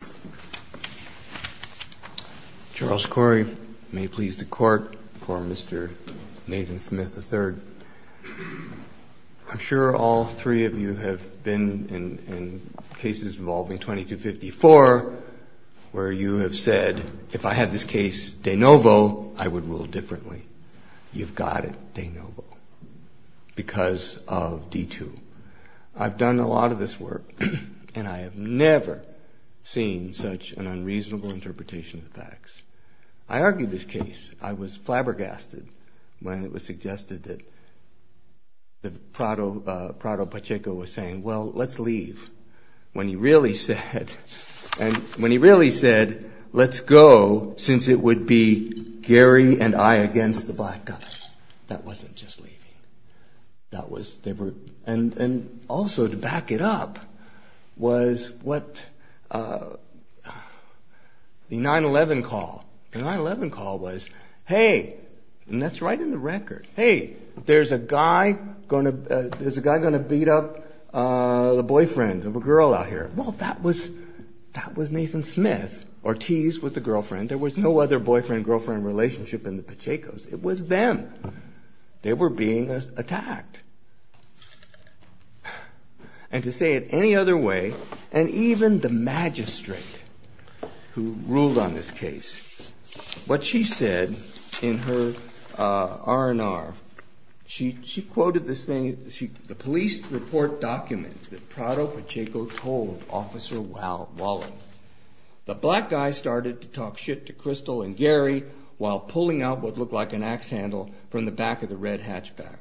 I'm sure all three of you have been in cases involving 2254 where you have said if I had this case de novo, I would rule differently. You've got it de novo because of D2. I've done a lot of this work and I have never seen such an unreasonable interpretation of the facts. I argued this case. I was flabbergasted when it was suggested that Prado Pacheco was saying well let's leave. When he really said let's go since it would be Gary and I against the black guy. That wasn't just leaving. And also to back it up was the 9-11 call. The 9-11 call was hey, and that's right in the record, hey there's a guy going to beat up the boyfriend of a girl out here. Well that was Nathan Smith. Ortiz was the girlfriend. There was no other boyfriend-girlfriend relationship in the Pachecos. It was them. They were being attacked. And to say it any other way, and even the magistrate who ruled on this case, what she said in her R&R, she quoted the police report document that Prado Pacheco told Officer Wallen. The black guy started to talk shit to Crystal and Gary while pulling out what looked like an axe handle from the back of the red hatchback.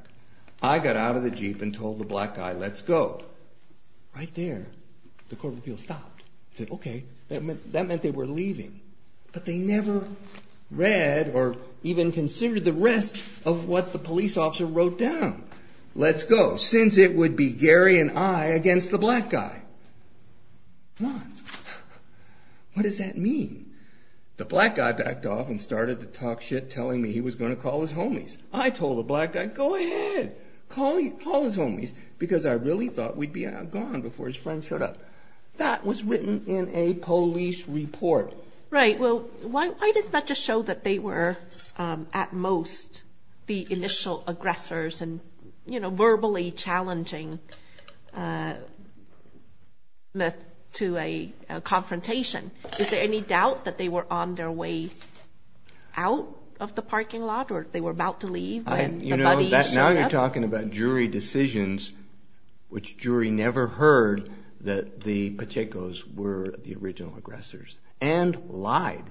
I got out of the jeep and told the black guy let's go. Right there the court of appeals stopped and said okay. That meant they were leaving. But they never read or even considered the rest of what the police officer wrote down. Let's go since it would be Gary and I against the black guy. What does that mean? The black guy backed off and started to talk shit telling me he was going to call his homies. I told the black guy go ahead, call his homies because I really thought we'd be gone before his friends showed up. That was written in a police report. Right. Why does that just show that they were at most the initial aggressors and verbally challenging Smith to a confrontation? Is there any doubt that they were on their way out of the parking lot or they were about to leave when the buddies showed up? We're talking about jury decisions which jury never heard that the Pachecos were the original aggressors and lied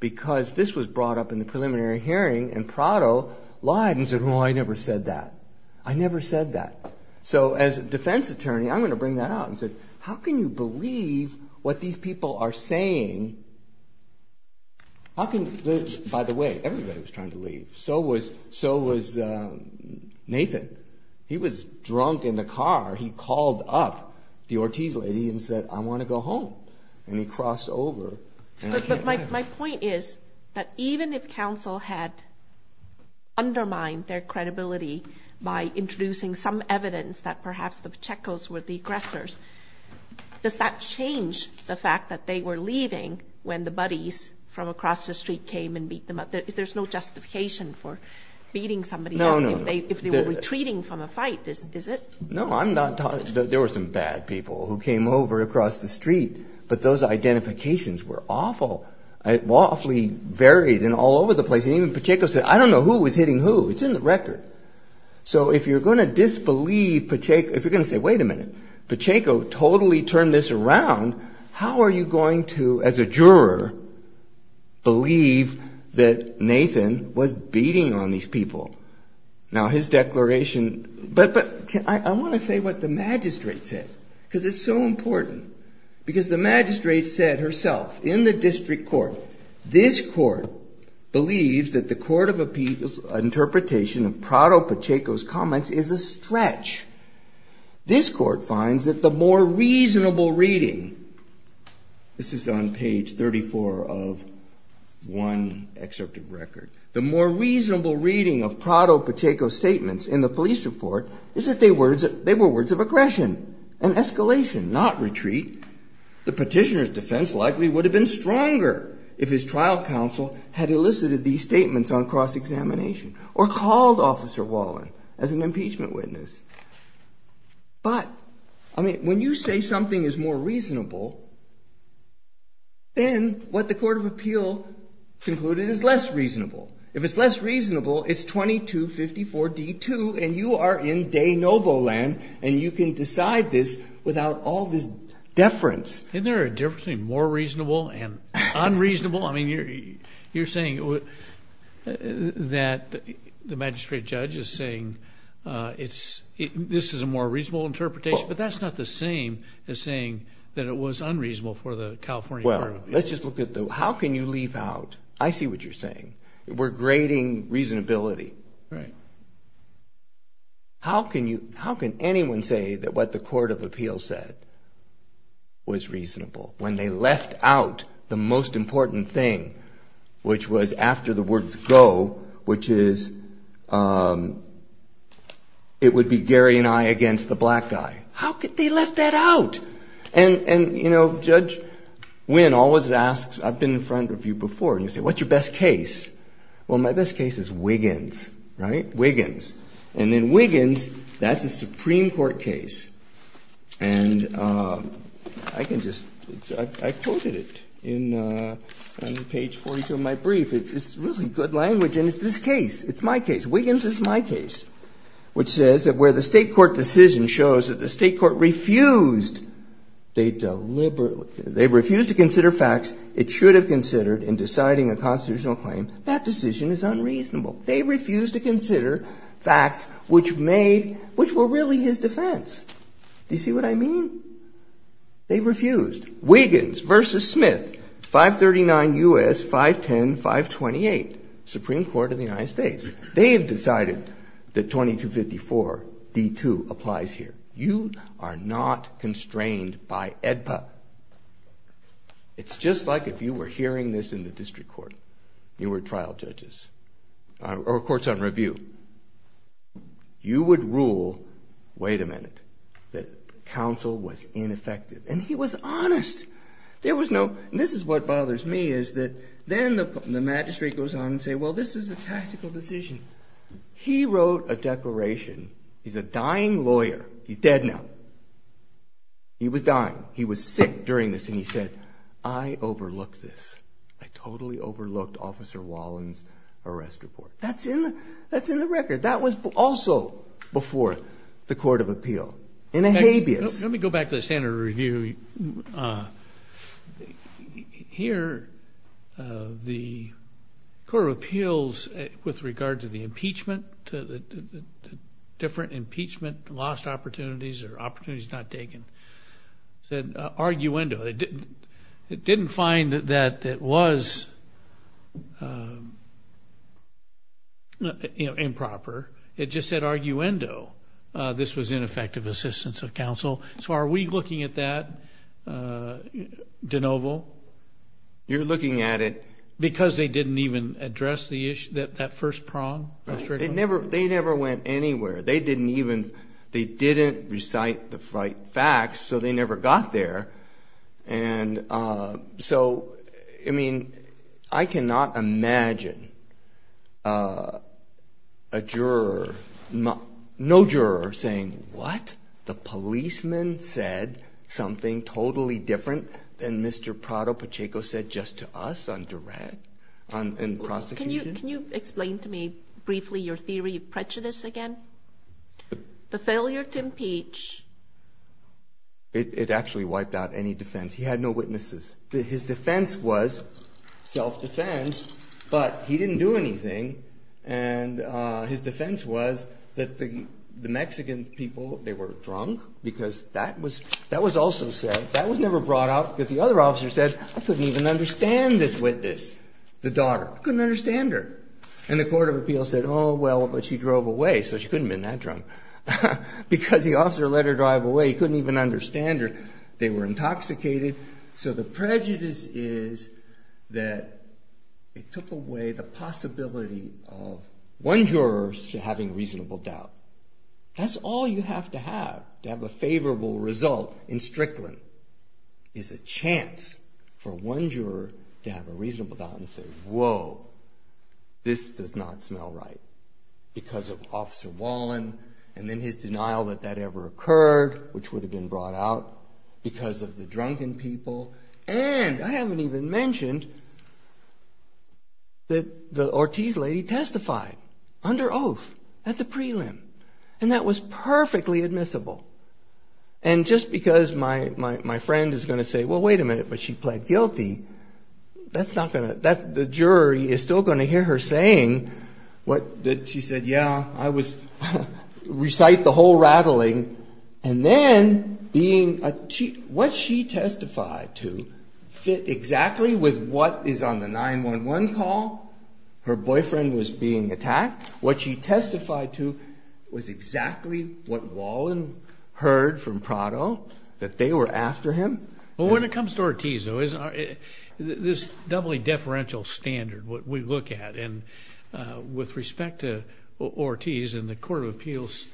because this was brought up in the preliminary hearing and Prado lied and said well I never said that. I never said that. So as a defense attorney I'm going to bring that out and say how can you believe what these people are saying? By the way, everybody was trying to leave. So was Nathan. He was drunk in the car. He called up the Ortiz lady and said I want to go home and he crossed over. But my point is that even if counsel had undermined their credibility by introducing some evidence that perhaps the Pachecos were the aggressors, does that change the fact that they were leaving when the buddies from across the street came and beat them up? There's no justification for beating somebody up if they were retreating from a fight, is it? No, I'm not talking, there were some bad people who came over across the street but those identifications were awful. It awfully varied and all over the place and even Pacheco said I don't know who was hitting who. It's in the record. So if you're going to disbelieve Pacheco, if you're going to say wait a minute, Pacheco totally turned this around, how are you going to as a juror believe that Nathan was beating on these people? Now his declaration, but I want to say what the magistrate said because it's so important. Because the magistrate said herself in the district court, this court believes that the court of appeals interpretation of Prado Pacheco's comments is a stretch. This court finds that the more reasonable reading, this is on page 34 of one excerpt of the record. The more reasonable reading of Prado Pacheco's statements in the police report is that they were words of aggression and escalation, not retreat. The petitioner's defense likely would have been stronger if his trial counsel had elicited these statements on cross-examination or called Officer Wallen as an impeachment witness. But when you say something is more reasonable, then what the court of appeal concluded is less reasonable. If it's less reasonable, it's 2254D2 and you are in de novo land and you can decide this without all this deference. Isn't there a difference between more reasonable and unreasonable? I mean you're saying that the magistrate judge is saying this is a more reasonable interpretation, but that's not the same as saying that it was unreasonable for the California court of appeals. When they left out the most important thing, which was after the words go, which is it would be Gary and I against the black guy. How could they left that out? And you know, Judge Wynn always asks, I've been in front of you before, and you say, what's your best case? Well, my best case is Wiggins, right? Wiggins. And then Wiggins, that's a Supreme Court case. And I can just, I quoted it on page 42 of my brief. It's really good language. And it's this case. It's my case. Wiggins is my case, which says that where the State court decision shows that the State court refused, they deliberately, they refused to consider facts it should have considered in deciding a constitutional claim, that decision is unreasonable. They refused to consider facts which made, which were really his defense. Do you see what I mean? They refused. Wiggins versus Smith, 539 U.S., 510, 528, Supreme Court of the United States. They have decided that 2254 D2 applies here. You are not constrained by AEDPA. It's just like if you were hearing this in the district court, you were trial judges, or courts on review. You would rule, wait a minute, that counsel was ineffective. And he was honest. There was no, and this is what bothers me, is that then the magistrate goes on and say, well, this is a tactical decision. He wrote a declaration. He's a dying lawyer. He's dead now. He was dying. He was sick during this. And he said, I overlooked this. I totally overlooked Officer Wallin's arrest report. That's in the record. That was also before the Court of Appeal in a habeas. Let me go back to the standard review. Here, the Court of Appeals, with regard to the impeachment, different impeachment, lost opportunities, or opportunities not taken, said arguendo. It didn't find that it was improper. It just said arguendo. This was ineffective assistance of counsel. So are we looking at that, DeNovo? You're looking at it. Because they didn't even address the issue, that first prong? They never went anywhere. They didn't even, they didn't recite the facts, so they never got there. And so, I mean, I cannot imagine a juror, no juror, saying, what? The policeman said something totally different than Mr. Prado-Pacheco said just to us on direct, in prosecution? Can you explain to me briefly your theory of prejudice again? The failure to impeach? It actually wiped out any defense. He had no witnesses. His defense was self-defense, but he didn't do anything. And his defense was that the Mexican people, they were drunk, because that was also said. That was never brought up, because the other officer said, I couldn't even understand this witness, the daughter. Couldn't understand her. And the court of appeals said, oh, well, but she drove away, so she couldn't have been that drunk. Because the officer let her drive away, he couldn't even understand her. They were intoxicated. So the prejudice is that it took away the possibility of one juror having reasonable doubt. That's all you have to have to have a favorable result in Strickland, is a chance for one juror to have a reasonable doubt and say, whoa, this does not smell right, because of Officer Wallen and then his denial that that ever occurred, which would have been brought out because of the drunken people. And I haven't even mentioned that the Ortiz lady testified under oath at the prelim. And that was perfectly admissible. And just because my friend is going to say, well, wait a minute, but she pled guilty, that's not going to, the jury is still going to hear her saying that she said, yeah, I was, recite the whole rattling. And then being, what she testified to fit exactly with what is on the 911 call. Her boyfriend was being attacked. What she testified to was exactly what Wallen heard from Prado, that they were after him. Well, when it comes to Ortiz, though, this doubly deferential standard, what we look at, and with respect to Ortiz, and the Court of Appeals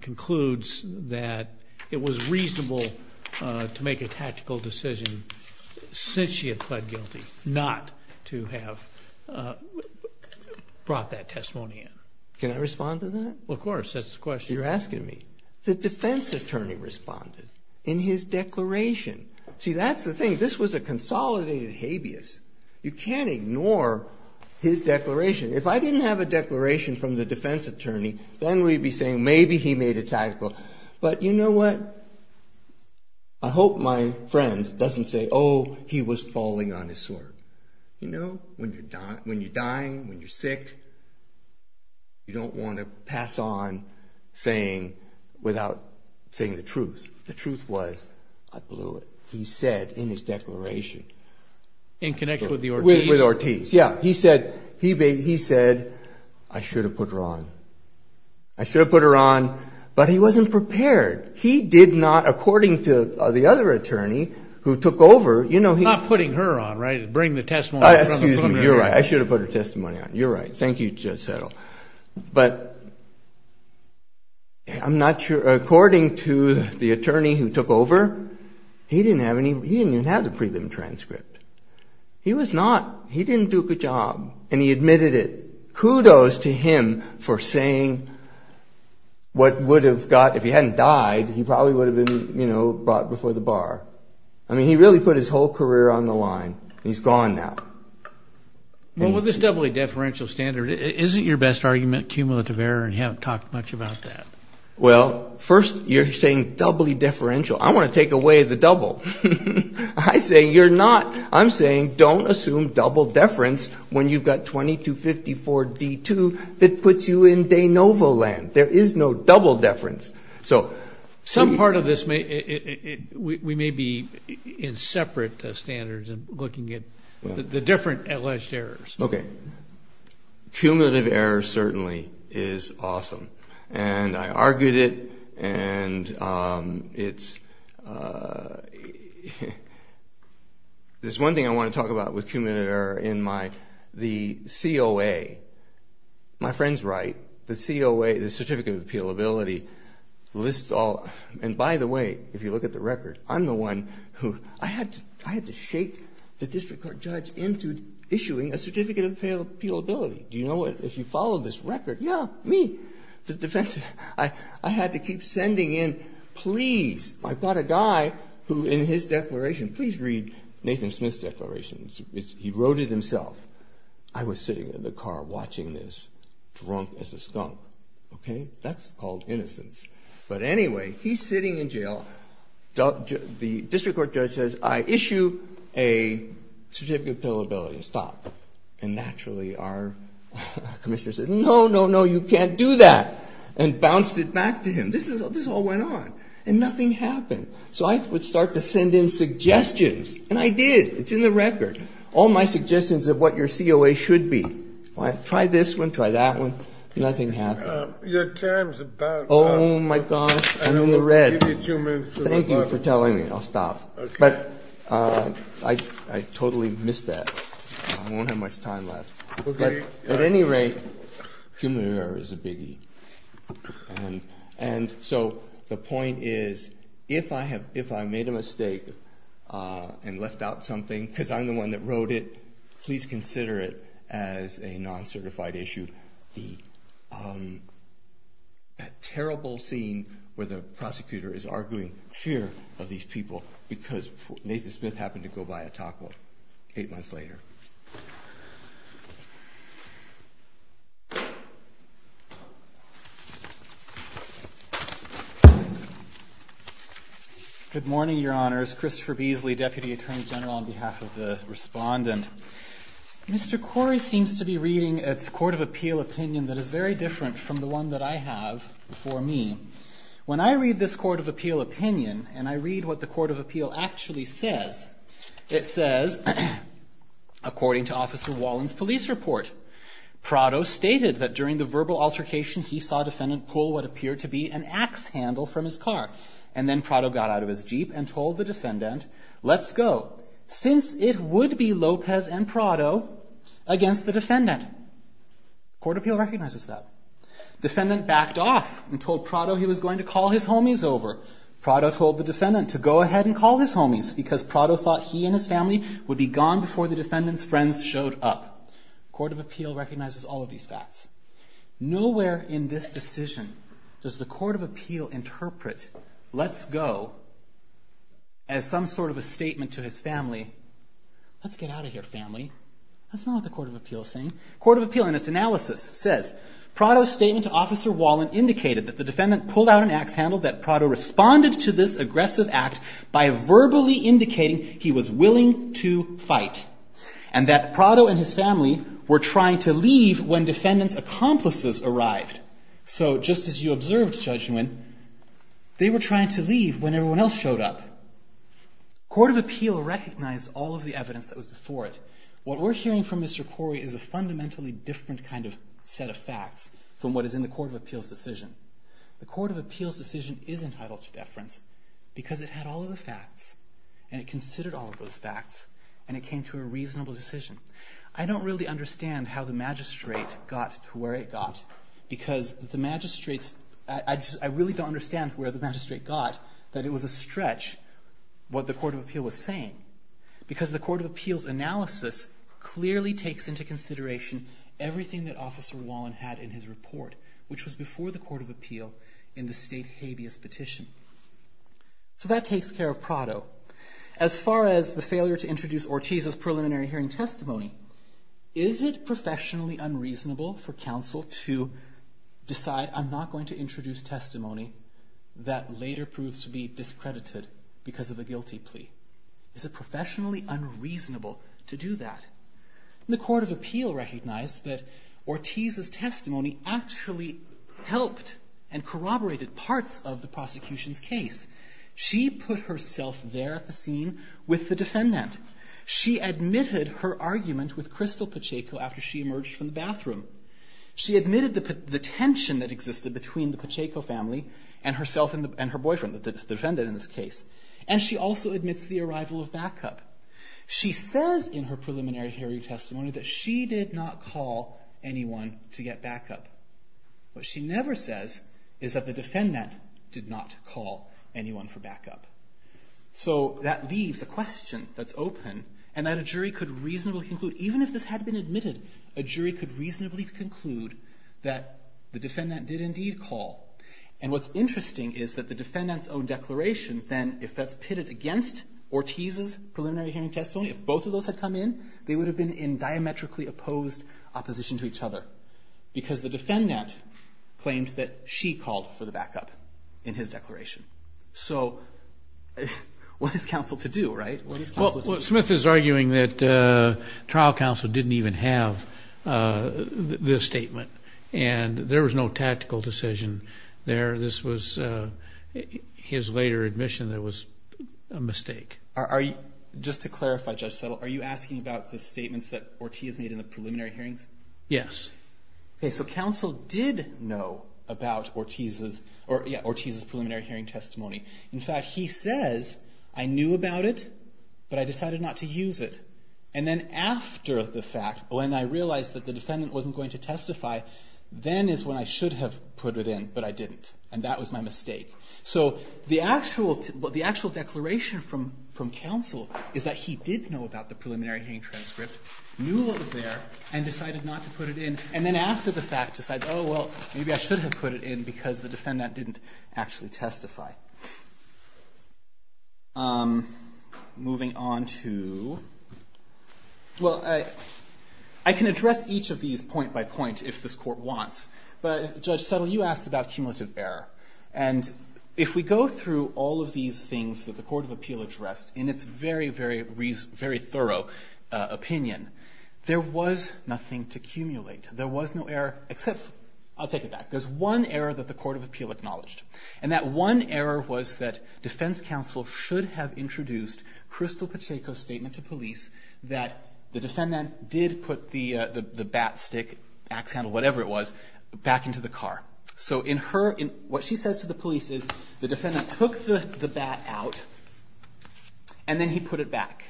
concludes that it was reasonable to make a tactical decision since she had pled guilty not to have brought that testimony in. Can I respond to that? Of course. That's the question. The defense attorney responded in his declaration. See, that's the thing. This was a consolidated habeas. You can't ignore his declaration. If I didn't have a declaration from the defense attorney, then we'd be saying maybe he made a tactical. But you know what? I hope my friend doesn't say, oh, he was falling on his sword. You know, when you're dying, when you're sick, you don't want to pass on saying, without saying the truth. The truth was, I blew it. He said in his declaration. In connection with Ortiz? Yeah. He said, I should have put her on. I should have put her on, but he wasn't prepared. He did not, according to the other attorney who took over. Not putting her on, right? Bring the testimony from her. You're right. I should have put her testimony on. You're right. Thank you, Judge Settle. But I'm not sure, according to the attorney who took over, he didn't have the prelim transcript. He was not, he didn't do a good job, and he admitted it. I mean, what would have got, if he hadn't died, he probably would have been, you know, brought before the bar. I mean, he really put his whole career on the line. He's gone now. Well, with this doubly deferential standard, isn't your best argument cumulative error, and you haven't talked much about that? Well, first, you're saying doubly deferential. I want to take away the double. I say you're not. I'm saying don't assume double deference when you've got 2254-D2 that puts you in de novo land. There is no double deference. Some part of this may, we may be in separate standards and looking at the different alleged errors. Okay. Cumulative error certainly is awesome, and I argued it, and it's, there's one thing I want to talk about with cumulative error in my, the COA. My friend's right. The COA, the Certificate of Appealability, lists all, and by the way, if you look at the record, I'm the one who, I had to shake the district court judge into issuing a Certificate of Appealability. Do you know what, if you follow this record, yeah, me, the defense, I had to keep sending in, please, I've got a guy who in his declaration, please read Nathan Smith's declaration. He wrote it himself. I was sitting in the car watching this, drunk as a skunk. Okay. That's called innocence. But anyway, he's sitting in jail. The district court judge says I issue a Certificate of Appealability. Stop. And naturally our commissioner says no, no, no, you can't do that, and bounced it back to him. This is, this all went on, and nothing happened. So I would start to send in suggestions, and I did. It's in the record. All my suggestions of what your COA should be. Try this one, try that one. Nothing happened. Your time's about up. Oh my gosh, I'm in the red. I'll give you two minutes. Thank you for telling me. I'll stop. Okay. But I totally missed that. I won't have much time left. At any rate, human error is a biggie. And so the point is, if I made a mistake and left out something, because I'm the one that wrote it, please consider it as a non-certified issue. Good morning, Your Honors. Christopher Beasley, Deputy Attorney General, on behalf of the respondent. Mr. Corey seems to be reading its Court of Appeal opinion that is very different from the one that I have before me. When I read this Court of Appeal opinion, and I read what the Court of Appeal actually says, it says, according to Officer Wallin's police report, Prado stated that during the verbal altercation, he saw Defendant pull what appeared to be an axe handle from his car. And then Prado got out of his Jeep and told the Defendant, let's go, since it would be Lopez and Prado against the Defendant. Court of Appeal recognizes that. Defendant backed off and told Prado he was going to call his homies over. Prado told the Defendant to go ahead and call his homies, because Prado thought he and his family would be gone before the Defendant's friends showed up. Court of Appeal recognizes all of these facts. Nowhere in this decision does the Court of Appeal interpret let's go as some sort of a statement to his family. Let's get out of here, family. That's not what the Court of Appeal is saying. Court of Appeal, in its analysis, says, Prado's statement to Officer Wallin indicated that the Defendant pulled out an axe handle, that Prado responded to this aggressive act by verbally indicating he was willing to fight, and that Prado and his family were trying to leave when Defendant's accomplices arrived. So, just as you observed, Judge Nguyen, they were trying to leave when everyone else showed up. Court of Appeal recognized all of the evidence that was before it. What we're hearing from Mr. Corey is a fundamentally different kind of set of facts from what is in the Court of Appeal's decision. The Court of Appeal's decision is entitled to deference, because it had all of the facts, and it considered all of those facts, and it came to a reasonable decision. I don't really understand how the Magistrate got to where it got, because the Magistrate's, I really don't understand where the Magistrate got that it was a stretch, what the Court of Appeal was saying. Because the Court of Appeal's analysis clearly takes into consideration everything that Officer Wallin had in his report, which was before the Court of Appeal in the state habeas petition. So that takes care of Prado. As far as the failure to introduce Ortiz's preliminary hearing testimony, is it professionally unreasonable for counsel to decide, I'm not going to introduce testimony that later proves to be discredited because of a guilty plea? Is it professionally unreasonable to do that? The Court of Appeal recognized that Ortiz's testimony actually helped and corroborated parts of the prosecution's case. She put herself there at the scene with the defendant. She admitted her argument with Crystal Pacheco after she emerged from the bathroom. She admitted the tension that existed between the Pacheco family and herself and her boyfriend, the defendant in this case. And she also admits the arrival of backup. She says in her preliminary hearing testimony that she did not call anyone to get backup. What she never says is that the defendant did not call anyone for backup. So that leaves a question that's open and that a jury could reasonably conclude, even if this had been admitted, a jury could reasonably conclude that the defendant did indeed call. And what's interesting is that the defendant's own declaration then, if that's pitted against Ortiz's preliminary hearing testimony, if both of those had come in, they would have been in diametrically opposed opposition to each other. Because the defendant claimed that she called for the backup in his declaration. So what is counsel to do, right? Well, Smith is arguing that trial counsel didn't even have this statement. And there was no tactical decision there. This was his later admission that was a mistake. Just to clarify, Judge Settle, are you asking about the statements that Ortiz made in the preliminary hearings? Yes. Okay. So counsel did know about Ortiz's preliminary hearing testimony. In fact, he says, I knew about it, but I decided not to use it. And then after the fact, when I realized that the defendant wasn't going to testify, then is when I should have put it in, but I didn't. And that was my mistake. So the actual declaration from counsel is that he did know about the preliminary hearing transcript, knew it was there, and decided not to put it in. And then after the fact decides, oh, well, maybe I should have put it in because the defendant didn't actually testify. Moving on to, well, I can address each of these point by point if this court wants. But Judge Settle, you asked about cumulative error. And if we go through all of these things that the Court of Appeal addressed in its very, very thorough opinion, there was nothing to accumulate. There was no error, except, I'll take it back, there's one error that the Court of Appeal acknowledged. And that one error was that defense counsel should have introduced Crystal Pacheco's statement to police that the defendant did put the bat, stick, ax handle, whatever it was, back into the car. So what she says to the police is the defendant took the bat out and then he put it back.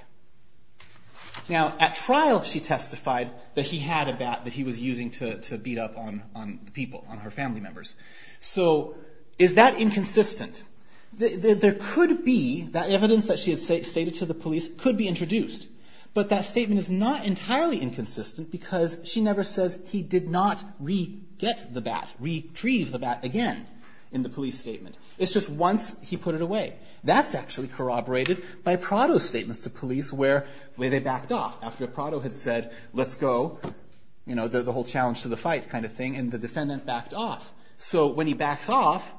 Now, at trial she testified that he had a bat that he was using to beat up on people, on her family members. So is that inconsistent? There could be, that evidence that she had stated to the police could be introduced. But that statement is not entirely inconsistent because she never says he did not re-get the bat, retrieve the bat again in the police statement. It's just once he put it away. That's actually corroborated by Prado's statements to police where they backed off. After Prado had said, let's go, you know, the whole challenge to the fight kind of thing, and the defendant backed off. So when he backs off,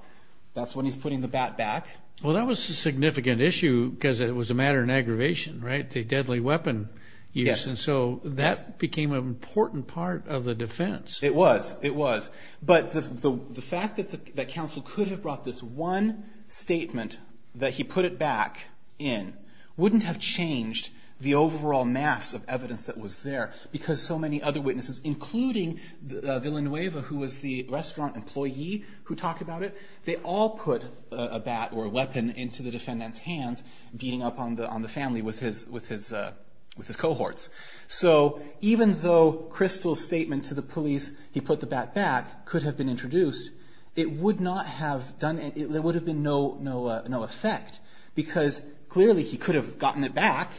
that's when he's putting the bat back. Well, that was a significant issue because it was a matter of aggravation, right? The deadly weapon use. And so that became an important part of the defense. It was. It was. But the fact that counsel could have brought this one statement that he put it back in wouldn't have changed the overall mass of evidence that was there because so many other witnesses, including Villanueva, who was the restaurant employee who talked about it, they all put a bat or a weapon into the defendant's hands beating up on the family with his cohorts. So even though Crystal's statement to the police, he put the bat back, could have been introduced, it would not have done, there would have been no effect because clearly he could have gotten it back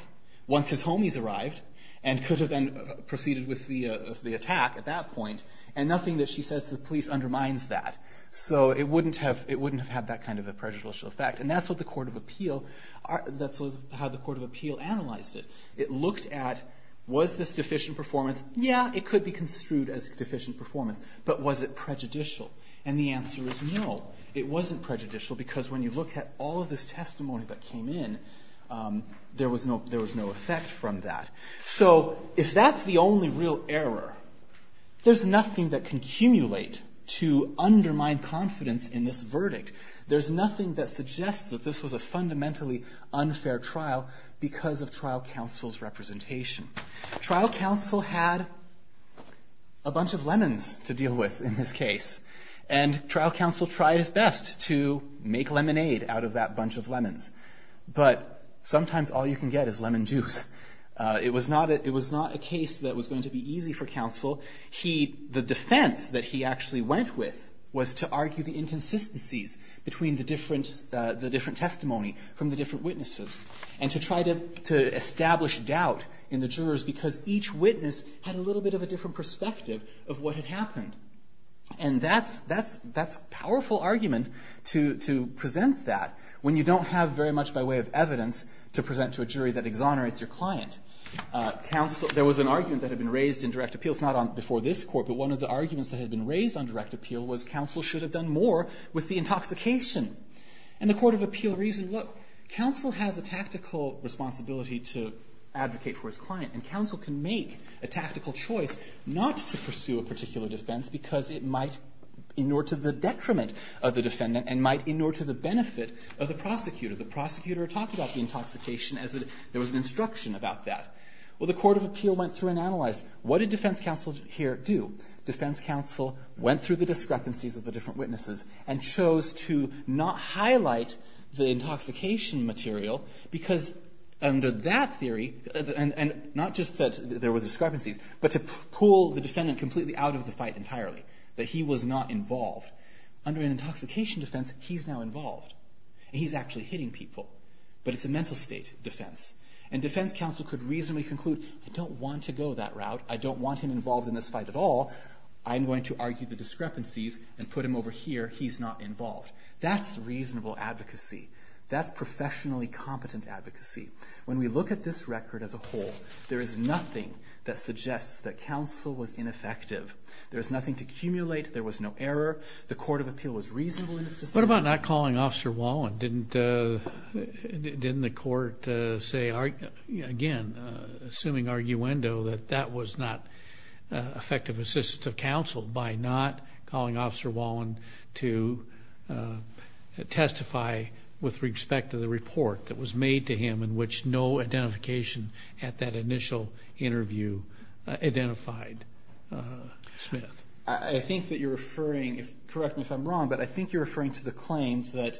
once his homies arrived and could have then proceeded with the attack at that point. And nothing that she says to the police undermines that. So it wouldn't have, it wouldn't have had that kind of a prejudicial effect. And that's what the court of appeal, that's how the court of appeal analyzed it. It looked at, was this deficient performance? Yeah, it could be construed as deficient performance, but was it prejudicial? And the answer is no, it wasn't prejudicial because when you look at all of this testimony that came in, there was no, there was no effect from that. So if that's the only real error, there's nothing that can accumulate to undermine confidence in this verdict. There's nothing that suggests that this was a fundamentally unfair trial because of trial counsel's representation. Trial counsel had a bunch of lemons to deal with in this case. And trial counsel tried his best to make lemonade out of that bunch of lemons. But sometimes all you can get is lemon juice. It was not a case that was going to be easy for counsel. He, the defense that he actually went with was to argue the inconsistencies between the different, the different testimony from the different witnesses and to try to, to establish doubt in the jurors because each witness had a little bit of a different perspective of what had happened. And that's, that's, that's powerful argument to, to present that when you don't have very much by way of evidence to present to a jury that exonerates your client. Counsel, there was an argument that had been raised in direct appeal. It's not on, before this court, but one of the arguments that had been raised on direct appeal was counsel should have done more with the intoxication. And the court of appeal reasoned, look, counsel has a tactical responsibility to advocate for his client and counsel can make a tactical choice not to pursue a particular defense because it might in order to the detriment of the defendant and might in order to the benefit of the prosecutor. The prosecutor talked about the intoxication as if there was an instruction about that. Well, the court of appeal went through and analyzed what did defense counsel here do? Defense counsel went through the discrepancies of the different witnesses and chose to not highlight the intoxication material because under that theory, and, and not just that there were discrepancies, but to pull the defendant completely out of the fight entirely, that he was not involved. Under an intoxication defense, he's now involved. He's actually hitting people, but it's a mental state defense. And defense counsel could reasonably conclude, I don't want to go that route. I don't want him involved in this fight at all. I'm going to argue the discrepancies and put him over here. He's not involved. That's reasonable advocacy. That's professionally competent advocacy. When we look at this record as a whole, there is nothing that suggests that counsel was ineffective. There is nothing to accumulate. There was no error. The court of appeal was reasonable in its decision. What about not calling Officer Wallen? Didn't the court say, again, assuming arguendo, that that was not effective assistance of counsel by not calling Officer Wallen to testify with respect to the report that was made to him in which no identification at that initial interview identified Smith? I think that you're referring, correct me if I'm wrong, but I think you're referring to the claim that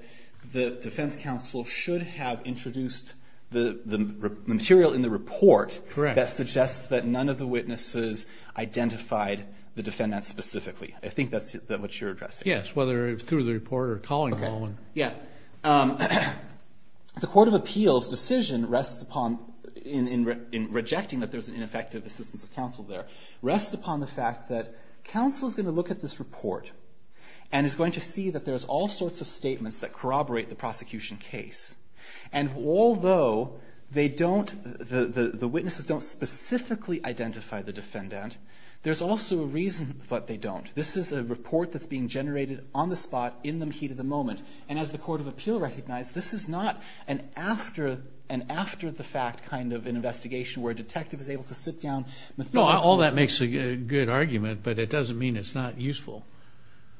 the defense counsel should have introduced the material in the report that suggests that none of the witnesses identified the defendant specifically. I think that's what you're addressing. Yes, whether through the report or calling Wallen. The court of appeals decision rests upon, in rejecting that there's an ineffective assistance of counsel there, rests upon the fact that counsel is going to look at this report and is going to see that there's all sorts of statements that corroborate the prosecution case. Although the witnesses don't specifically identify the defendant, there's also a reason that they don't. This is a report that's being generated on the spot, in the heat of the moment. As the court of appeal recognized, this is not an after-the-fact kind of investigation where a detective is able to sit down. All that makes a good argument, but it doesn't mean it's not useful.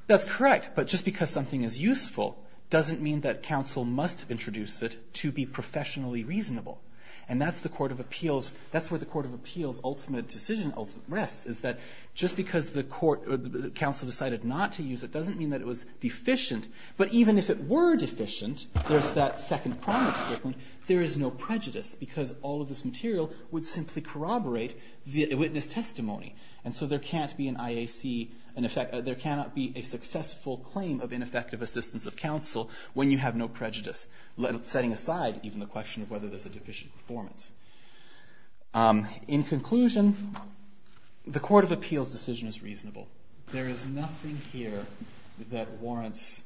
That's correct, but just because something is useful doesn't mean that counsel must introduce it to be professionally reasonable. That's where the court of appeals ultimate decision rests, is that just because the counsel decided not to use it doesn't mean that it was deficient. But even if it were deficient, there's that second promise statement, there is no prejudice because all of this material would simply corroborate the witness testimony. And so there can't be an IAC, there cannot be a successful claim of ineffective assistance of counsel when you have no prejudice, setting aside even the question of whether there's a deficient performance. In conclusion, the court of appeals decision is reasonable. There is nothing here that warrants,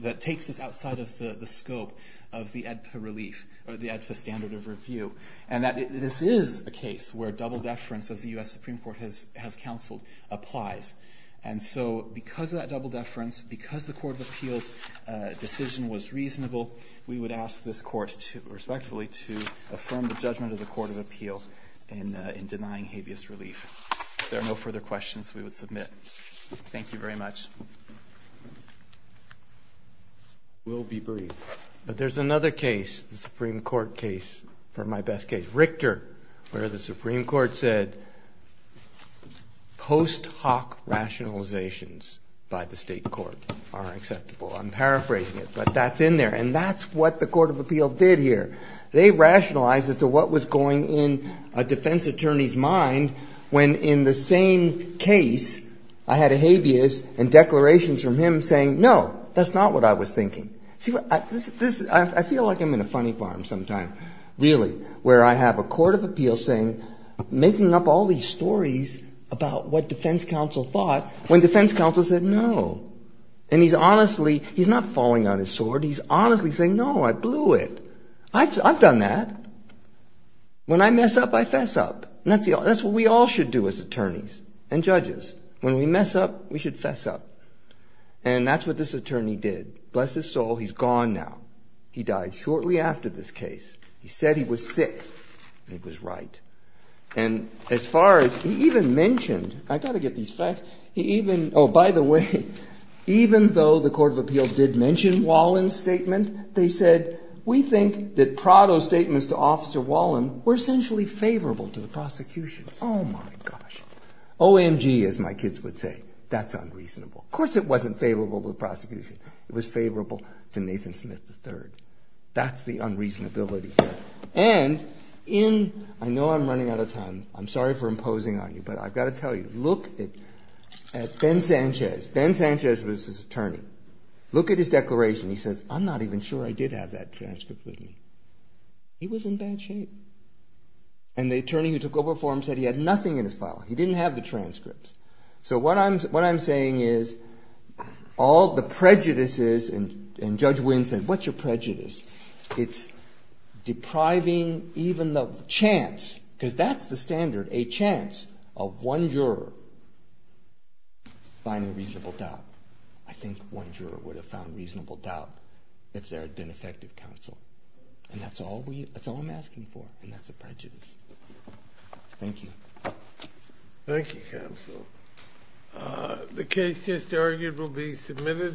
that takes this outside of the scope of the ADPA relief, or the ADPA standard of review. And this is a case where double deference, as the U.S. Supreme Court has counseled, applies. And so because of that double deference, because the court of appeals decision was reasonable, we would ask this court respectfully to affirm the judgment of the court of appeals in denying habeas relief. If there are no further questions, we would submit. Thank you very much. I will be brief. But there's another case, the Supreme Court case, for my best case, Richter, where the Supreme Court said post hoc rationalizations by the state court are acceptable. I'm paraphrasing it, but that's in there. And that's what the court of appeals did here. They rationalized as to what was going in a defense attorney's mind when, in the same case, I had a habeas and declarations from him saying, no, that's not what I was thinking. See, I feel like I'm in a funny barn sometime, really, where I have a court of appeals saying, making up all these stories about what defense counsel thought when defense counsel said no. And he's honestly, he's not falling on his sword. He's honestly saying, no, I blew it. I've done that. When I mess up, I fess up. And that's what we all should do as attorneys and judges. When we mess up, we should fess up. And that's what this attorney did. Bless his soul, he's gone now. He died shortly after this case. He said he was sick. And he was right. And as far as he even mentioned, I've got to get these facts. Oh, by the way, even though the court of appeals did mention Wallin's statement, they said, we think that Prado's statements to Officer Wallin were essentially favorable to the prosecution. Oh, my gosh. OMG, as my kids would say. That's unreasonable. Of course, it wasn't favorable to the prosecution. It was favorable to Nathan Smith III. That's the unreasonability here. And I know I'm running out of time. I'm sorry for imposing on you. But I've got to tell you, look at Ben Sanchez. Ben Sanchez was his attorney. Look at his declaration. He says, I'm not even sure I did have that transcript with me. He was in bad shape. And the attorney who took over for him said he had nothing in his file. He didn't have the transcripts. So what I'm saying is all the prejudices and Judge Wynn said, what's your prejudice? It's depriving even the chance, because that's the standard, a chance of one juror finding reasonable doubt. I think one juror would have found reasonable doubt if there had been effective counsel. And that's all I'm asking for. And that's a prejudice. Thank you. Thank you, counsel. The case just argued will be submitted.